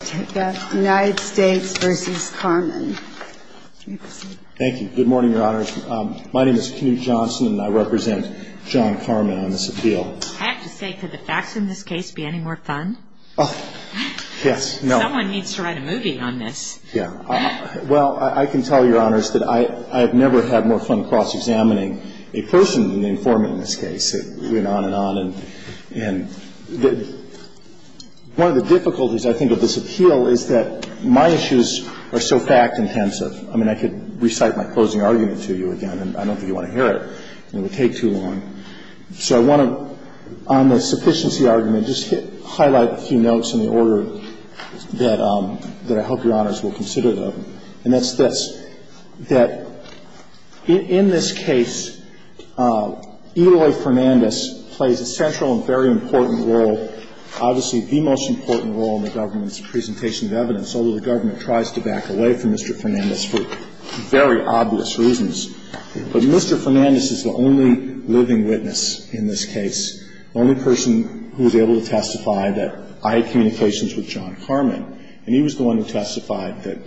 Thank you. Good morning, Your Honors. My name is Knut Johnson, and I represent John Carman on this appeal. I have to say, could the facts in this case be any more fun? Yes. No. Someone needs to write a movie on this. Yeah. Well, I can tell, Your Honors, that I have never had more fun cross-examining a person than the informant in this case. It went on and on. And one of the difficulties, I think, of this appeal is that it's not a simple case. The difficulty of this appeal is that my issues are so fact-intensive. I mean, I could recite my closing argument to you again, and I don't think you want to hear it. It would take too long. So I want to, on the sufficiency argument, just highlight a few notes in the order that I hope Your Honors will consider them. And that's this, that in this case, Eloy Fernandez plays a central and very important role, obviously the most important role in the government's presentation of evidence, although the government tries to back away from Mr. Fernandez for very obvious reasons. But Mr. Fernandez is the only living witness in this case, the only person who was able to testify that I had communications with John Carman, and he was the one who testified that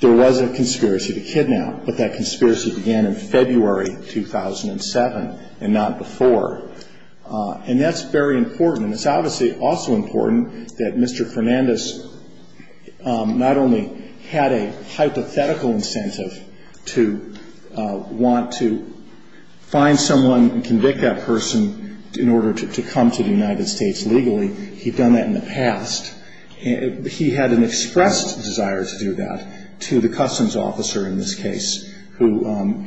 there was a conspiracy to kidnap, but that conspiracy began in February 2007 and not before. And that's very important. It's obviously also important that Mr. Fernandez not only had a hypothetical incentive to want to find someone and convict that person in order to come to the United States legally. He'd done that in the past. He had an expressed desire to do that to the customs officer in this case who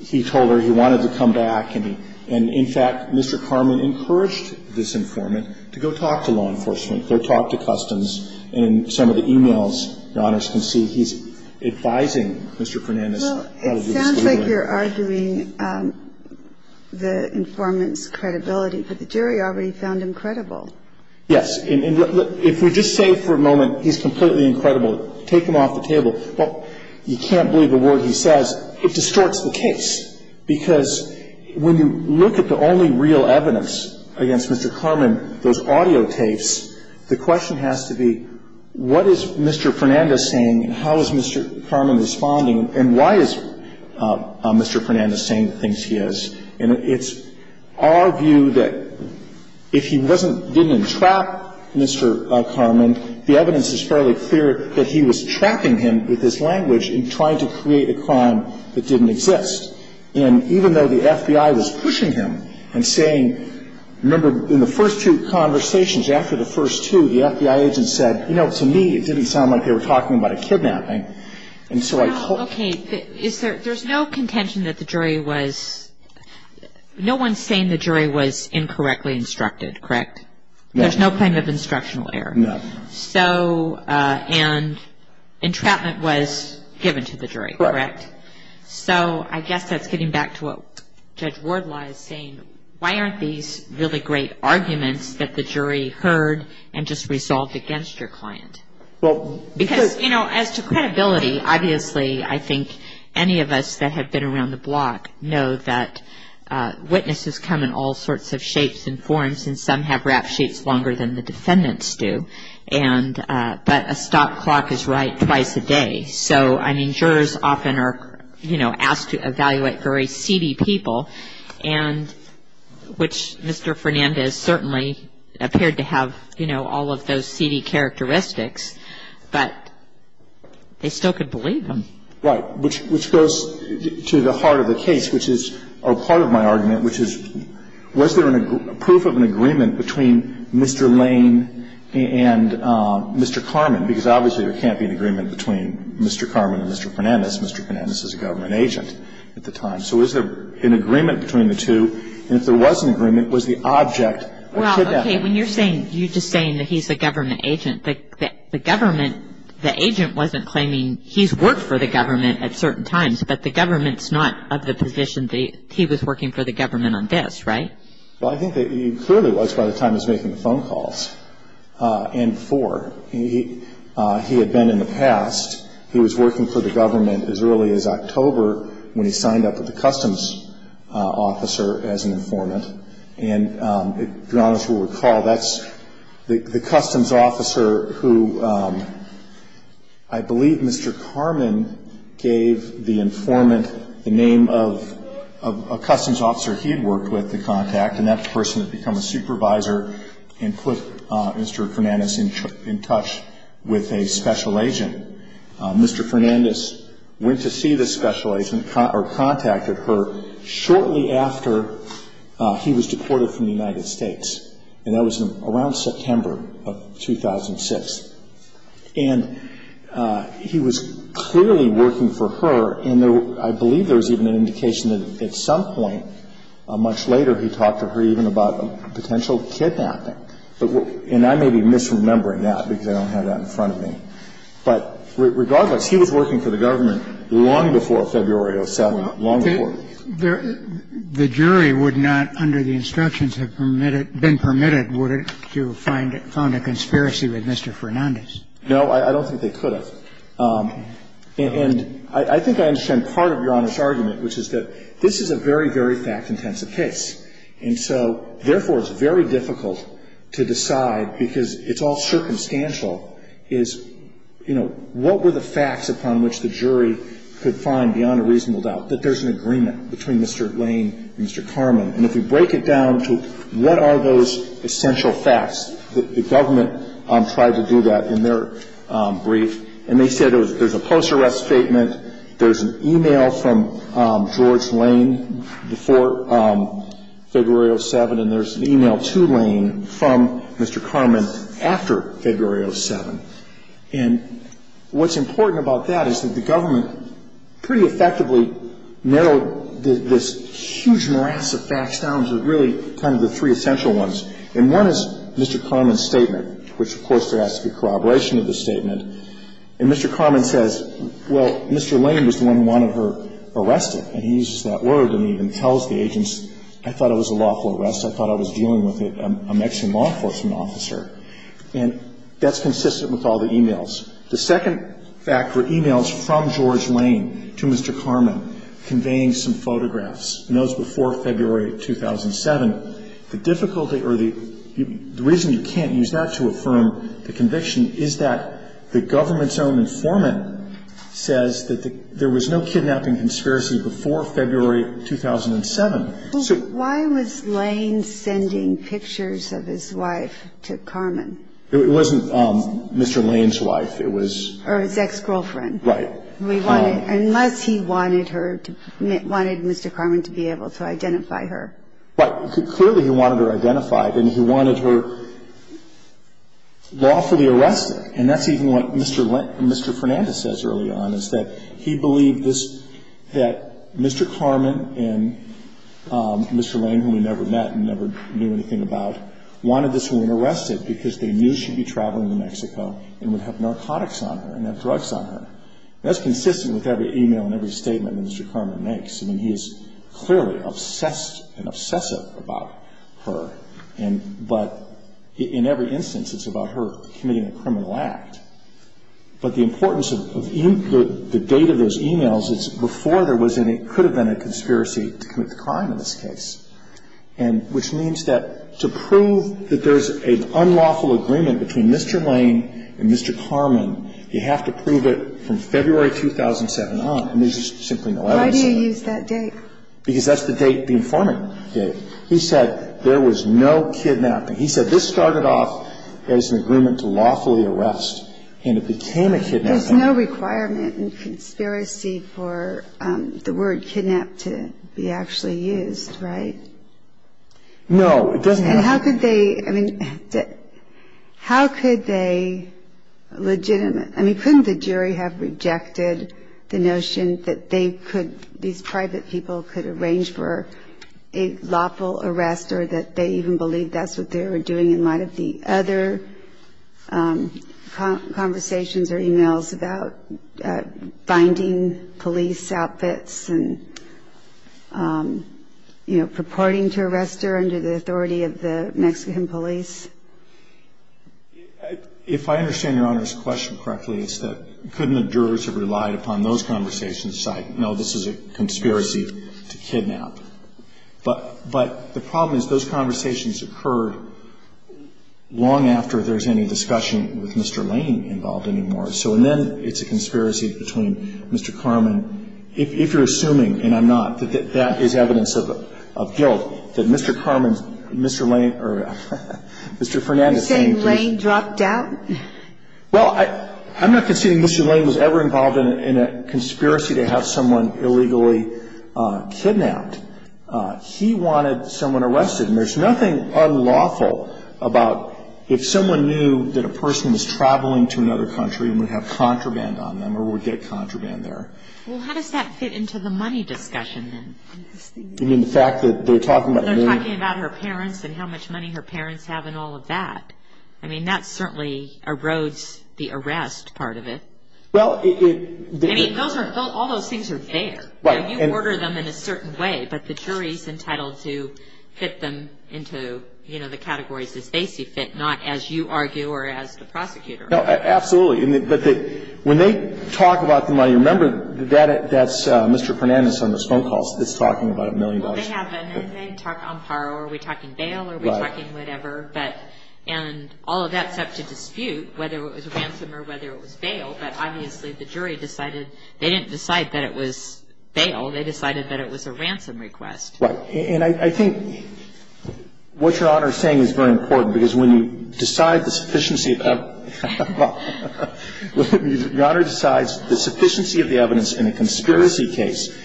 he told her he wanted to come back and in fact Mr. Carman encouraged this informant to go talk to law enforcement, go talk to customs, and in some of the e-mails Your Honors can see he's advising Mr. Fernandez. Well, it sounds like you're arguing the informant's credibility, but the jury already found him credible. Yes. If we just say for a moment he's completely incredible, take him off the table, you can't believe a word he says, it distorts the case. Because when you look at the only real evidence against Mr. Carman, those audio tapes, the question has to be what is Mr. Fernandez saying and how is Mr. Carman responding and why is Mr. Fernandez saying the things he is. And it's our view that if he wasn't, didn't entrap Mr. Carman, the evidence is fairly clear that he was trapping him with his language in trying to create a crime that didn't exist. And even though the FBI was pushing him and saying, remember in the first two conversations, after the first two the FBI agent said, you know, to me it didn't sound like they were talking about a kidnapping. Okay. There's no contention that the jury was, no one's saying the jury was incorrectly instructed, correct? No. No claim of instructional error. No. So, and entrapment was given to the jury, correct? Correct. So I guess that's getting back to what Judge Wardlaw is saying, why aren't these really great arguments that the jury heard and just resolved against your client? Well. Because, you know, as to credibility, obviously I think any of us that have been around the block know that witnesses come in all sorts of shapes and forms, and some have rap sheets longer than the defendants do. And but a stop clock is right twice a day. So, I mean, jurors often are, you know, asked to evaluate very seedy people, and which Mr. Fernandez certainly appeared to have, you know, all of those seedy characteristics, but they still could believe him. And so, you know, I don't think there's any evidence that Mr. Fernandez is a government agent. I don't think there's any evidence that Mr. Fernandez is a government agent. Right. Which goes to the heart of the case, which is a part of my argument, which is was there a proof of an agreement between Mr. Lane and Mr. Carman? Because obviously there can't be an agreement between Mr. Carman and Mr. Fernandez. Mr. Fernandez is a government agent at the time. So is there an agreement between the two? And if there was an agreement, was the object a kidnapping? Well, okay, when you're saying, you're just saying that he's a government agent, the government, the agent wasn't claiming he's worked for the government at certain times, but the government's not of the position that he was working for the government on this, right? Well, I think that he clearly was by the time he was making the phone calls and before. He had been in the past. He was working for the government as early as October when he signed up with the customs officer as an informant. And if you'll recall, that's the customs officer who I believe Mr. Carman gave the informant the name of a customs officer he had worked with, the contact, and that person had become a supervisor and put Mr. Fernandez in touch with a special agent. Mr. Fernandez went to see this special agent or contacted her shortly after he was deported from the United States, and that was around September of 2006. And he was clearly working for her, and I believe there was even an indication that at some point, much later, he talked to her even about a potential kidnapping. And I may be misremembering that because I don't have that in front of me. But regardless, he was working for the government long before February of 2007, long before. The jury would not under the instructions have permitted, been permitted, would it, to find a conspiracy with Mr. Fernandez? No, I don't think they could have. And I think I understand part of Your Honor's argument, which is that this is a very, very fact-intensive case. And so, therefore, it's very difficult to decide, because it's all circumstantial, is, you know, what were the facts upon which the jury could find beyond a reasonable doubt that there's an agreement between Mr. Lane and Mr. Carman? And if you break it down to what are those essential facts, the government tried to do that in their brief. And they said there's a post-arrest statement, there's an e-mail from George Lane before February of 2007, and there's an e-mail to Lane from Mr. Carman after February of 2007. And what's important about that is that the government pretty effectively narrowed this huge morass of facts down to really kind of the three essential ones. And one is Mr. Carman's statement, which, of course, there has to be corroboration of the statement. And Mr. Carman says, well, Mr. Lane was the one who wanted her arrested. And he uses that word, and he even tells the agents, I thought it was a lawful arrest. I thought I was dealing with a Mexican law enforcement officer. And that's consistent with all the e-mails. The second fact were e-mails from George Lane to Mr. Carman conveying some photographs. In those before February 2007, the difficulty or the reason you can't use that to affirm the conviction is that the government's own informant says that there was no kidnapping conspiracy before February 2007. So why was Lane sending pictures of his wife to Carman? It wasn't Mr. Lane's wife. It was his ex-girlfriend. Right. Unless he wanted her to, wanted Mr. Carman to be able to identify her. But clearly he wanted her identified, and he wanted her lawfully arrested. And that's even what Mr. Fernandez says earlier on, is that he believed this, that Mr. Carman and Mr. Lane, whom he never met and never knew anything about, wanted this woman arrested because they knew she'd be traveling to Mexico and would have narcotics on her and have drugs on her. And that's consistent with every e-mail and every statement Mr. Carman makes. I mean, he is clearly obsessed and obsessive about her. And but in every instance it's about her committing a criminal act. But the importance of the date of those e-mails is before there was any, could have been a conspiracy to commit the crime in this case. And which means that to prove that there's an unlawful agreement between Mr. Lane and Mr. Carman, you have to prove it from February 2007 on. And there's just simply no evidence of it. Why do you use that date? Because that's the date the informant gave. He said there was no kidnapping. He said this started off as an agreement to lawfully arrest, and it became a kidnapping. There's no requirement in conspiracy for the word kidnap to be actually used, right? No, it doesn't have to be. And how could they, I mean, how could they legitimately, I mean, couldn't the jury have rejected the notion that they could, these private people could arrange for a lawful arrest or that they even believe that's what they were doing in light of the other conversations or e-mails about finding police outfits and, you know, reporting to arrest her under the authority of the Mexican police? If I understand Your Honor's question correctly, it's that couldn't the jurors have relied upon those conversations to decide, no, this is a conspiracy to kidnap? But the problem is those conversations occurred long after there's any discussion with Mr. Lane involved anymore. So then it's a conspiracy between Mr. Carman. If you're assuming, and I'm not, that that is evidence of guilt, that Mr. Carman, Mr. Lane, or Mr. Fernandez. Are you saying Lane dropped out? Well, I'm not conceding Mr. Lane was ever involved in a conspiracy to have someone illegally kidnapped. He wanted someone arrested. And there's nothing unlawful about if someone knew that a person was traveling to another country and would have contraband on them or would get contraband there. Well, how does that fit into the money discussion then? You mean the fact that they're talking about money? They're talking about her parents and how much money her parents have and all of that. I mean, that certainly erodes the arrest part of it. I mean, all those things are there. You order them in a certain way, but the jury's entitled to fit them into the categories as they see fit, not as you argue or as the prosecutor. No, absolutely. But when they talk about the money, remember that's Mr. Fernandez on those phone calls that's talking about a million dollars. Well, they haven't. They talk on par. Are we talking bail? Are we talking whatever? And all of that's up to dispute whether it was a ransom or whether it was bail. But obviously the jury decided they didn't decide that it was bail. They decided that it was a ransom request. Right. And I think what Your Honor is saying is very important because when you decide the sufficiency of the evidence in a conspiracy case,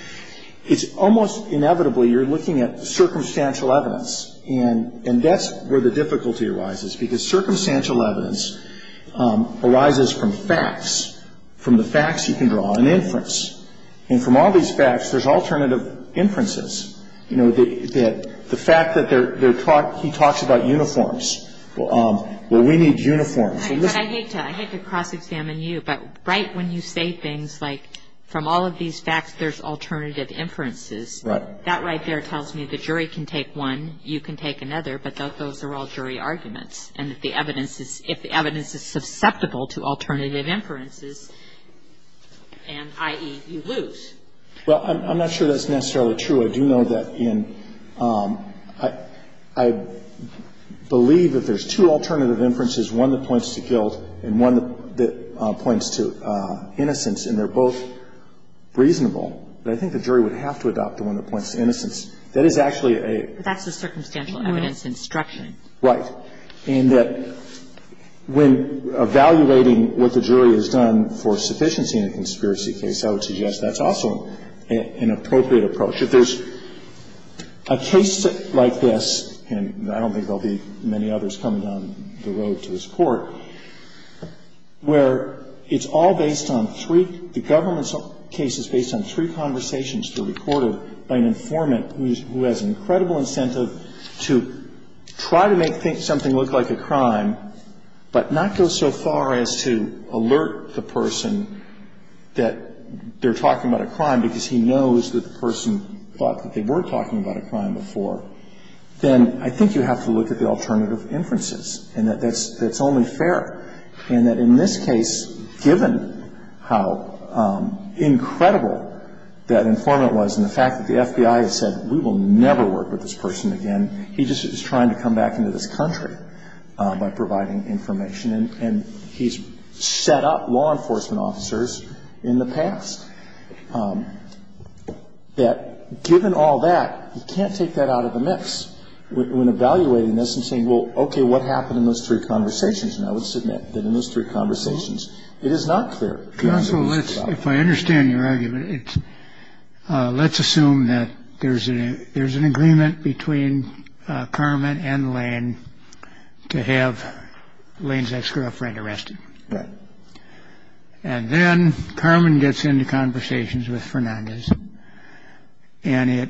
it's almost inevitably you're looking at circumstantial evidence. And that's where the difficulty arises because circumstantial evidence arises from facts, from the facts you can draw an inference. And from all these facts, there's alternative inferences. You know, the fact that he talks about uniforms. Well, we need uniforms. But I hate to cross-examine you, but right when you say things like from all of these facts there's alternative inferences, that right there tells me the jury can take one, you can take another, but those are all jury arguments. And if the evidence is susceptible to alternative inferences, i.e., you lose. Well, I'm not sure that's necessarily true. I do know that in – I believe that there's two alternative inferences, one that points to guilt and one that points to innocence, and they're both reasonable. But I think the jury would have to adopt the one that points to innocence. That is actually a – But that's the circumstantial evidence instruction. Right. And that when evaluating what the jury has done for sufficiency in a conspiracy case, I would suggest that's also an appropriate approach. If there's a case like this, and I don't think there will be many others coming down the road to this Court, where it's all based on three – the government case is based on three conversations that are recorded by an informant who has an incredible incentive to try to make something look like a crime, but not go so far as to alert the person that they're talking about a crime because he knows that the person thought that they were talking about a crime before, then I think you have to look at the alternative inferences and that that's only fair, and that in this case, given how incredible that informant was and the fact that the FBI has said we will never work with this person again, he just is trying to come back into this country by providing information, and he's set up law enforcement officers in the past, that given all that, you can't take that out of the mix when evaluating this and saying, well, okay, what happened in those three conversations? And I would submit that in those three conversations, it is not clear. Counsel, if I understand your argument, let's assume that there's an agreement between Carmen and Lane to have Lane's ex-girlfriend arrested, and then Carmen gets into conversations with Fernandez, and it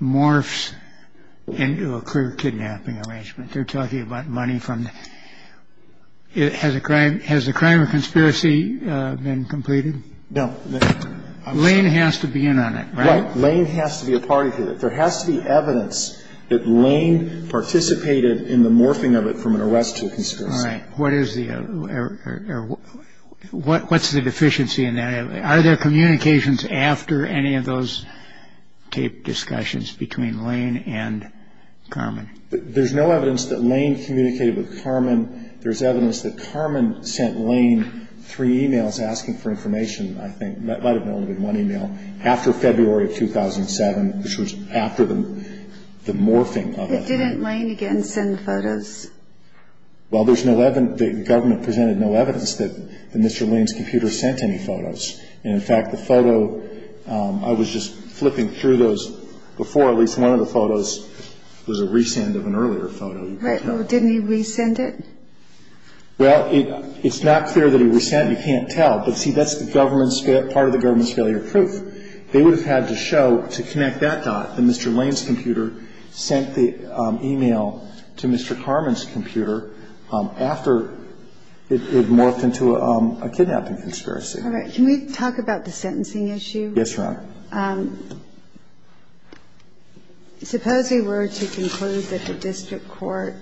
morphs into a clear kidnapping arrangement. They're talking about money from the – has the crime of conspiracy been completed? No. Lane has to be in on it, right? Right. Lane has to be a party to it. There has to be evidence that Lane participated in the morphing of it from an arrest to a conspiracy. All right. What is the – or what's the deficiency in that? Are there communications after any of those taped discussions between Lane and Carmen? There's no evidence that Lane communicated with Carmen. There's evidence that Carmen sent Lane three e-mails asking for information, I think. That might have been only one e-mail. After February of 2007, which was after the morphing of it. It didn't Lane again send photos? Well, there's no – the government presented no evidence that Mr. Lane's computer sent any photos. And, in fact, the photo – I was just flipping through those before. At least one of the photos was a re-send of an earlier photo. Right. Well, didn't he re-send it? Well, it's not clear that he re-sent it. You can't tell. But, see, that's the government's – part of the government's failure of proof. They would have had to show, to connect that dot, that Mr. Lane's computer sent the e-mail to Mr. Carmen's computer after it morphed into a kidnapping conspiracy. All right. Can we talk about the sentencing issue? Yes, Your Honor. Well, suppose we were to conclude that the district court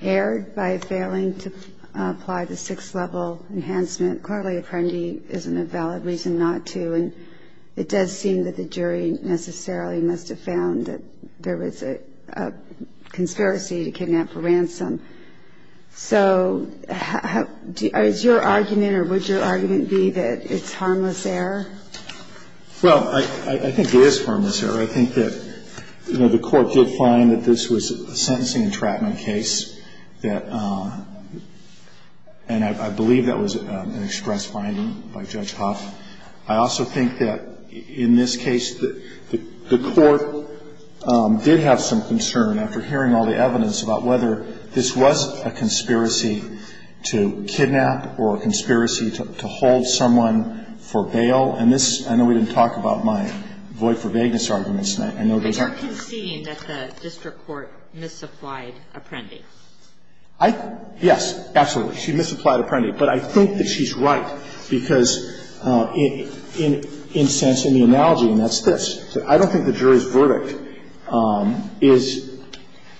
erred by failing to apply the sixth-level enhancement. Clearly, Apprendi isn't a valid reason not to. And it does seem that the jury necessarily must have found that there was a conspiracy to kidnap for ransom. So is your argument, or would your argument be, that it's harmless error? Well, I think it is harmless error. I think that, you know, the court did find that this was a sentencing entrapment case that – and I believe that was an express finding by Judge Hoff. I also think that, in this case, the court did have some concern, after hearing all the evidence, about whether this was a conspiracy to kidnap or a conspiracy to hold someone for bail. And this – I know we didn't talk about my void-for-vagueness arguments. I know there's a – But you're conceding that the district court misapplied Apprendi. I – yes, absolutely. She misapplied Apprendi. But I think that she's right, because in the analogy, and that's this. I don't think the jury's verdict is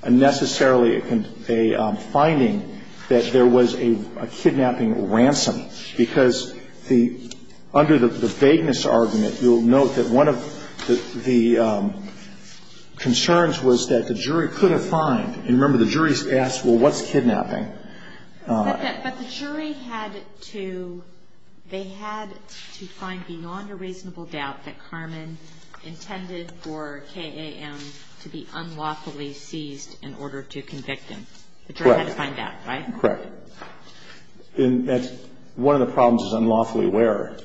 necessarily a finding that there was a kidnapping ransom, because the – under the vagueness argument, you'll note that one of the concerns was that the jury could have fined. And remember, the jury asked, well, what's kidnapping? But the jury had to – they had to find beyond a reasonable doubt that Carmen intended for KAM to be unlawfully seized in order to convict him. Correct. The jury had to find that, right? Correct. And that's – one of the problems is unlawfully where?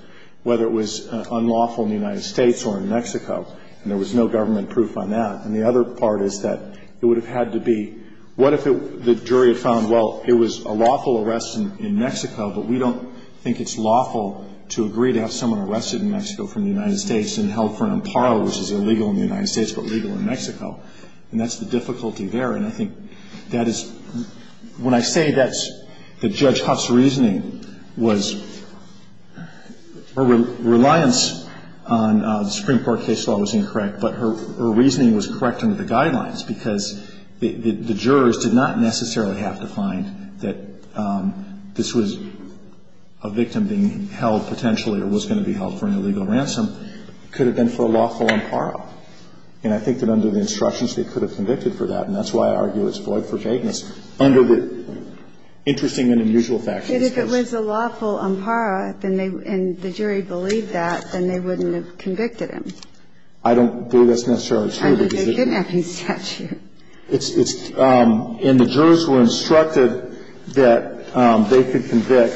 Whether it was unlawful in the United States or in Mexico. And there was no government proof on that. And the other part is that it would have had to be – what if it – the jury had found, well, it was a lawful arrest in Mexico, but we don't think it's lawful to agree to have someone arrested in Mexico from the United States and held for an imparo, which is illegal in the United States but legal in Mexico. And that's the difficulty there. And I think that is – when I say that's – that Judge Huff's reasoning was – her reliance on the Supreme Court case law was incorrect, but her reasoning was correct under the guidelines because the jurors did not necessarily have to find that this was a victim being held potentially or was going to be held for an illegal ransom. It could have been for a lawful imparo. And I think that under the instructions, they could have convicted for that. And that's why I argue it's void for vagueness under the interesting and unusual facts of this case. But if it was a lawful imparo and the jury believed that, then they wouldn't have convicted him. I don't believe that's necessarily true. I mean, they didn't have his statute. It's – and the jurors were instructed that they could convict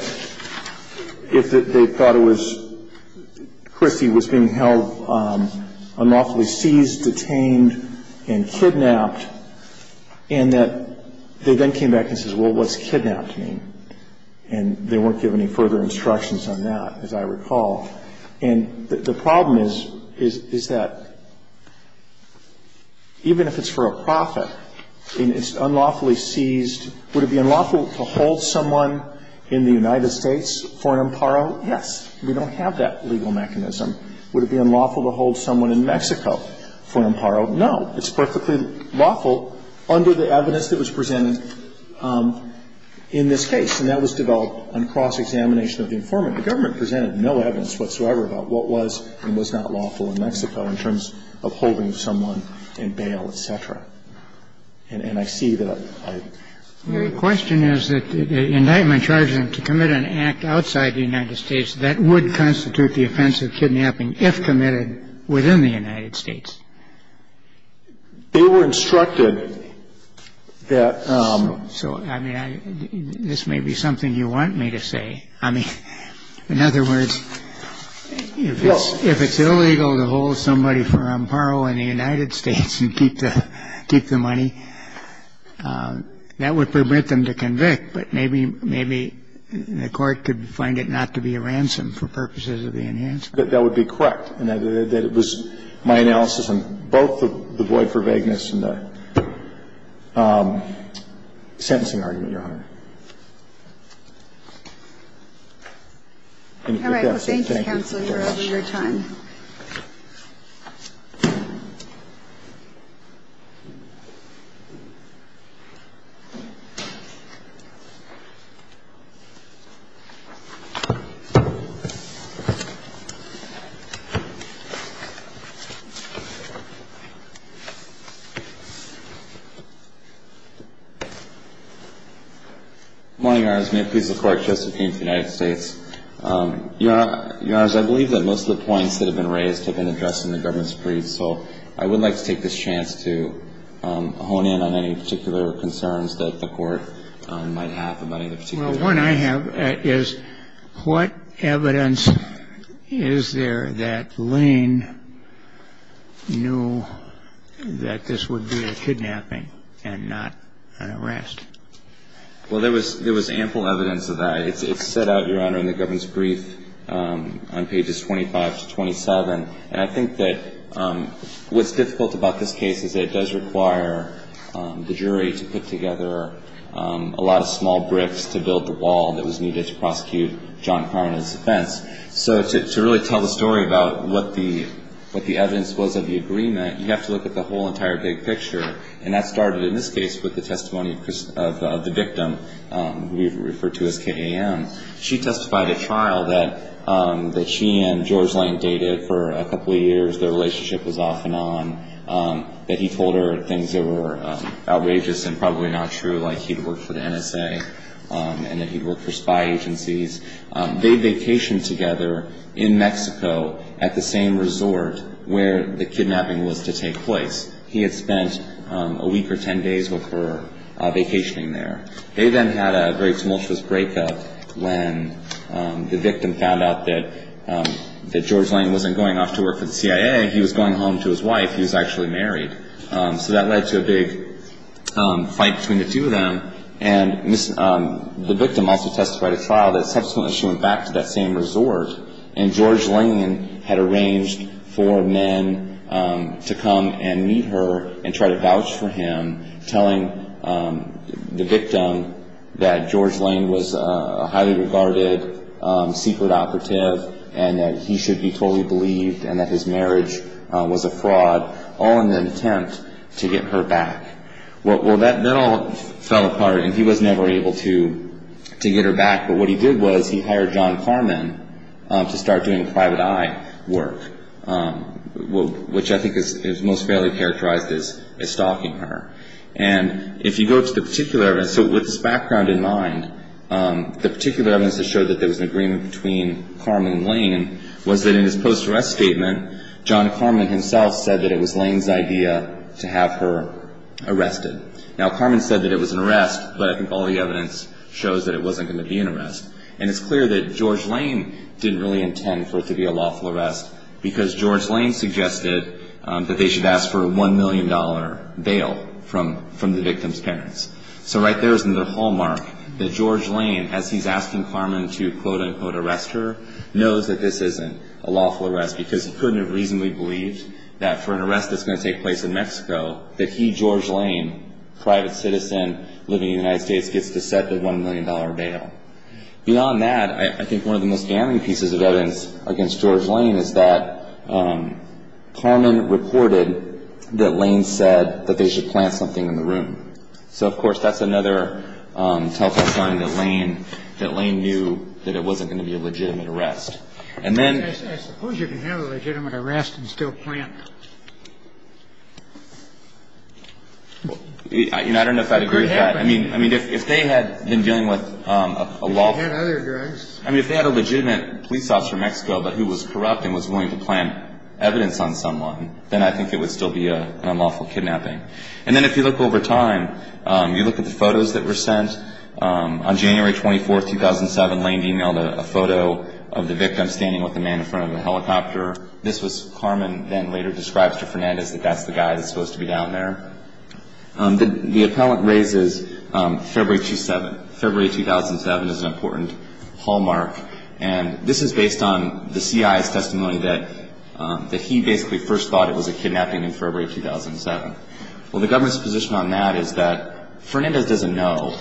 if they thought that there was – Christie was being held unlawfully seized, detained, and kidnapped and that they then came back and said, well, what's kidnapped mean? And they weren't given any further instructions on that, as I recall. And the problem is, is that even if it's for a profit and it's unlawfully seized, would it be unlawful to hold someone in the United States for an imparo? Yes. We don't have that legal mechanism. Would it be unlawful to hold someone in Mexico for an imparo? No. It's perfectly lawful under the evidence that was presented in this case. And that was developed on cross-examination of the informant. The government presented no evidence whatsoever about what was and was not lawful in Mexico in terms of holding someone in bail, et cetera. And I see that I – Your question is that the indictment charges him to commit an act outside the United States that would constitute the offense of kidnapping if committed within the United States. They were instructed that – So, I mean, this may be something you want me to say. I mean, in other words, if it's illegal to hold somebody for an imparo in the United States and keep the money, that would permit them to convict, but maybe the court could find it not to be a ransom for purposes of the enhancement. That would be correct in that it was my analysis on both the void for vagueness and the sentencing argument, Your Honor. All right. Well, thank you, counsel, for your time. Thank you, Your Honor. Good morning, Your Honors. May it please the Court. Justice King of the United States. Your Honors, I believe that most of the points that have been raised have been addressed in the government's brief, so I would like to take this chance to hone in on any particular concerns that the court might have about any particular case. Well, one I have is what evidence is there that Lane knew that this would be a kidnapping and not an arrest? Well, there was ample evidence of that. It's set out, Your Honor, in the government's brief on pages 25 to 27, and I think that what's difficult about this case is that it does require the jury to put together a lot of small bricks to build the wall that was needed to prosecute John Carman's defense. So to really tell the story about what the evidence was of the agreement, you have to look at the whole entire big picture, and that started in this case with the testimony of the victim, who we've referred to as KAM. She testified at trial that she and George Lane dated for a couple of years. Their relationship was off and on, that he told her things that were outrageous and probably not true, like he'd worked for the NSA and that he'd worked for spy agencies. They vacationed together in Mexico at the same resort where the kidnapping was to take place. He had spent a week or ten days with her vacationing there. They then had a very tumultuous breakup when the victim found out that George Lane wasn't going off to work for the CIA. He was going home to his wife. He was actually married. So that led to a big fight between the two of them, and the victim also testified at trial that subsequently she went back to that same resort, and George Lane had arranged for men to come and meet her and try to vouch for him, telling the victim that George Lane was a highly regarded secret operative and that he should be totally believed and that his marriage was a fraud, all in an attempt to get her back. Well, that then all fell apart, and he was never able to get her back, but what he did was he hired John Carman to start doing private eye work, which I think is most fairly characterized as stalking her. And if you go to the particular evidence, so with this background in mind, the particular evidence that showed that there was an agreement between Carman and Lane was that in his post-arrest statement, John Carman himself said that it was Lane's idea to have her arrested. Now, Carman said that it was an arrest, but I think all the evidence shows that it wasn't going to be an arrest. And it's clear that George Lane didn't really intend for it to be a lawful arrest because George Lane suggested that they should ask for a $1 million bail from the victim's parents. So right there is another hallmark that George Lane, as he's asking Carman to, quote, unquote, arrest her, knows that this isn't a lawful arrest because he couldn't have reasonably believed that for an arrest that's going to take place in Mexico, that he, George Lane, private citizen living in the United States, gets deceptive $1 million bail. Beyond that, I think one of the most damning pieces of evidence against George Lane is that Carman reported that Lane said that they should plant something in the room. So, of course, that's another telltale sign that Lane knew that it wasn't going to be a legitimate arrest. I suppose you can have a legitimate arrest and still plant. I don't know if I'd agree with that. I mean, if they had been dealing with a lawful- If they had other drugs. I mean, if they had a legitimate police officer in Mexico but who was corrupt and was willing to plant evidence on someone, then I think it would still be an unlawful kidnapping. And then if you look over time, you look at the photos that were sent, on January 24, 2007, Lane emailed a photo of the victim standing with the man in front of the helicopter. This was- Carman then later describes to Fernandez that that's the guy that's supposed to be down there. The appellant raises February 2007. February 2007 is an important hallmark. And this is based on the CIA's testimony that he basically first thought it was a kidnapping in February 2007. Well, the government's position on that is that Fernandez doesn't know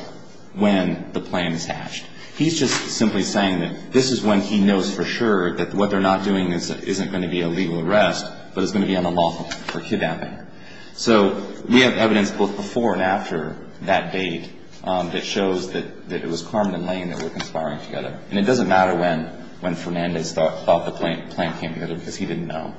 when the plan is hatched. He's just simply saying that this is when he knows for sure that what they're not doing isn't going to be a legal arrest but it's going to be unlawful for kidnapping. So we have evidence both before and after that date that shows that it was Carman and Lane that were conspiring together. And it doesn't matter when Fernandez thought the plan came together because he didn't know.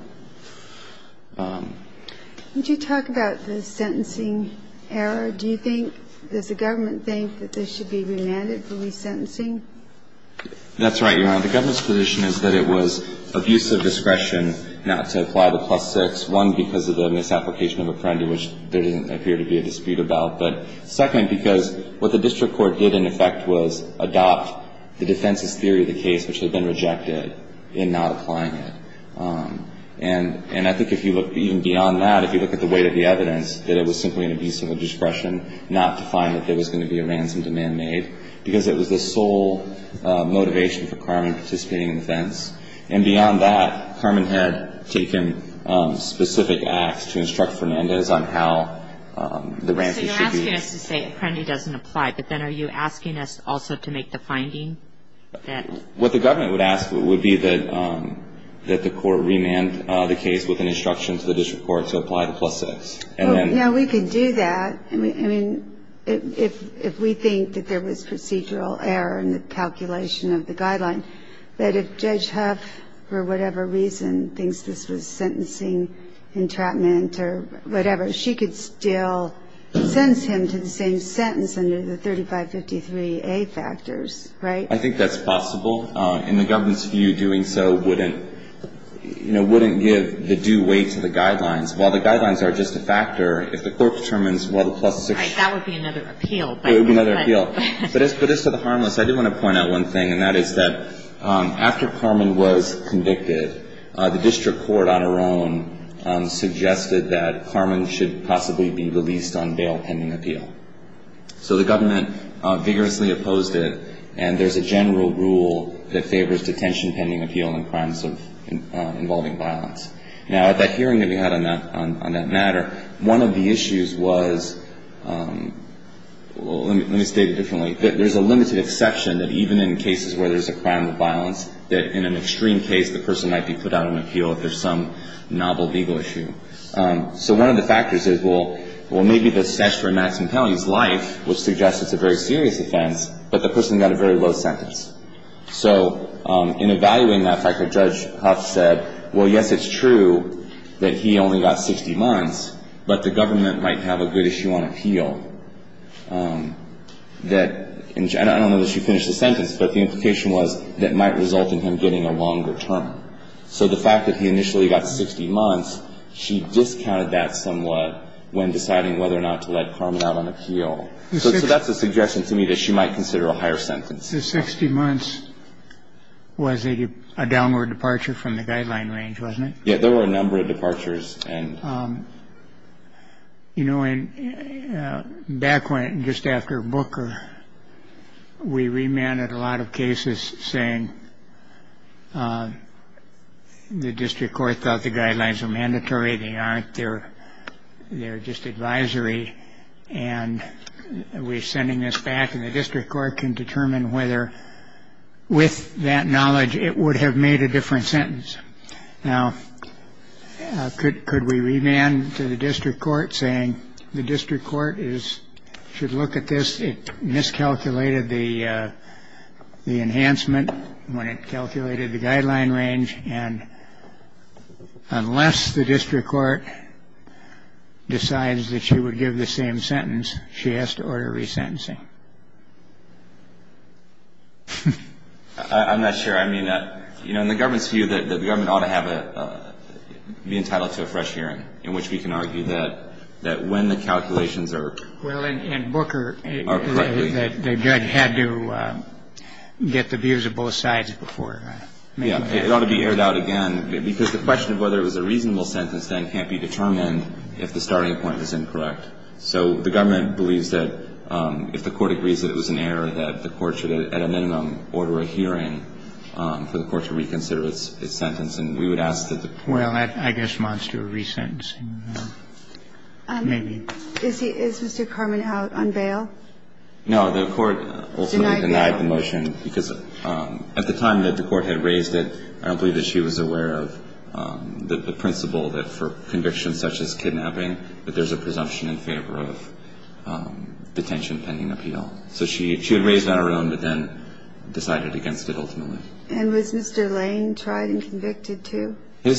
Would you talk about the sentencing error? Do you think, does the government think that this should be remanded for resentencing? That's right, Your Honor. The government's position is that it was abuse of discretion not to apply the plus six, one, because of the misapplication of a penalty which there doesn't appear to be a dispute about, but second, because what the district court did in effect was adopt the defense's theory of the case which had been rejected in not applying it. And I think if you look even beyond that, if you look at the weight of the evidence, that it was simply an abuse of discretion not to find that there was going to be a ransom demand made because it was the sole motivation for Carman participating in the defense. And beyond that, Carman had taken specific acts to instruct Fernandez on how the ransom should be used. So you're asking us to say it currently doesn't apply, but then are you asking us also to make the finding that? What the government would ask would be that the court remand the case with an instruction to the district court to apply the plus six. Now, we could do that. I mean, if we think that there was procedural error in the calculation of the guideline, that if Judge Huff, for whatever reason, thinks this was sentencing entrapment or whatever, she could still sentence him to the same sentence under the 3553A factors, right? I think that's possible. In the government's view, doing so wouldn't, you know, wouldn't give the due weight to the guidelines. While the guidelines are just a factor, if the court determines, well, the plus six. Right. That would be another appeal. It would be another appeal. But as to the harmless, I do want to point out one thing, and that is that after Carman was convicted, the district court on her own suggested that Carman should possibly be released on bail pending appeal. So the government vigorously opposed it, and there's a general rule that favors detention pending appeal in crimes involving violence. Now, at that hearing that we had on that matter, one of the issues was, well, let me state it differently. There's a limited exception that even in cases where there's a crime of violence, that in an extreme case the person might be put out on appeal if there's some novel legal issue. So one of the factors is, well, maybe the statute for a maximum penalty is life, which suggests it's a very serious offense, but the person got a very low sentence. So in evaluating that fact, Judge Huff said, well, yes, it's true that he only got 60 months, but the government might have a good issue on appeal. I don't know that she finished the sentence, but the implication was that it might result in him getting a longer term. So the fact that he initially got 60 months, she discounted that somewhat when deciding whether or not to let Carman out on appeal. So that's a suggestion to me that she might consider a higher sentence. So 60 months was a downward departure from the guideline range, wasn't it? Yeah, there were a number of departures. And, you know, back when just after Booker, we remanded a lot of cases saying the district court thought the guidelines were mandatory. They aren't there. They're just advisory. And we're sending this back in the district court can determine whether with that knowledge it would have made a different sentence. Now, could could we remand to the district court saying the district court is should look at this? It miscalculated the the enhancement when it calculated the guideline range. And unless the district court decides that she would give the same sentence, she has to order resentencing. I'm not sure. I mean, you know, in the government's view that the government ought to have a be entitled to a fresh hearing in which we can argue that that when the calculations are. Well, in Booker, they had to get the views of both sides before. Yeah. It ought to be aired out again because the question of whether it was a reasonable sentence then can't be determined if the starting point is incorrect. So the government believes that if the court agrees that it was an error, that the court should at a minimum order a hearing for the court to reconsider its sentence. And we would ask that the. Well, I guess monster resentencing. Maybe. Is Mr. Carman out on bail? No, the court ultimately denied the motion because at the time that the court had raised it, I don't believe that she was aware of the principle that for convictions such as kidnapping, that there's a presumption in favor of detention pending appeal. So she had raised it on her own, but then decided against it ultimately. And was Mr. Lane tried and convicted too? He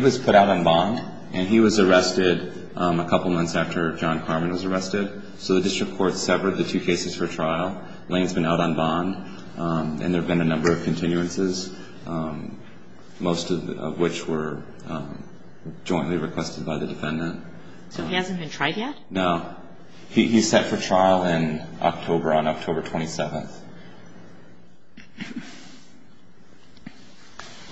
was put out on bond and he was arrested a couple of months after John Carman was arrested. So the district court severed the two cases for trial. Lane's been out on bond and there have been a number of continuances. Most of which were jointly requested by the defendant. So he hasn't been tried yet? No. He's set for trial in October, on October 27th.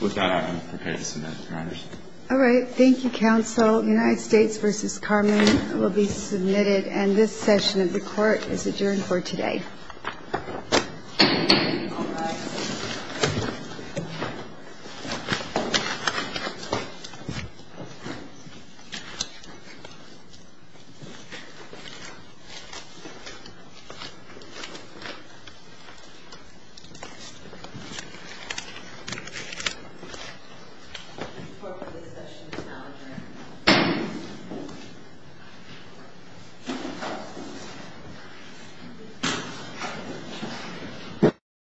With that, I'm prepared to submit matters. All right. Thank you, counsel. United States v. Carman will be submitted. And this session of the court is adjourned for today. All rise. Thank you.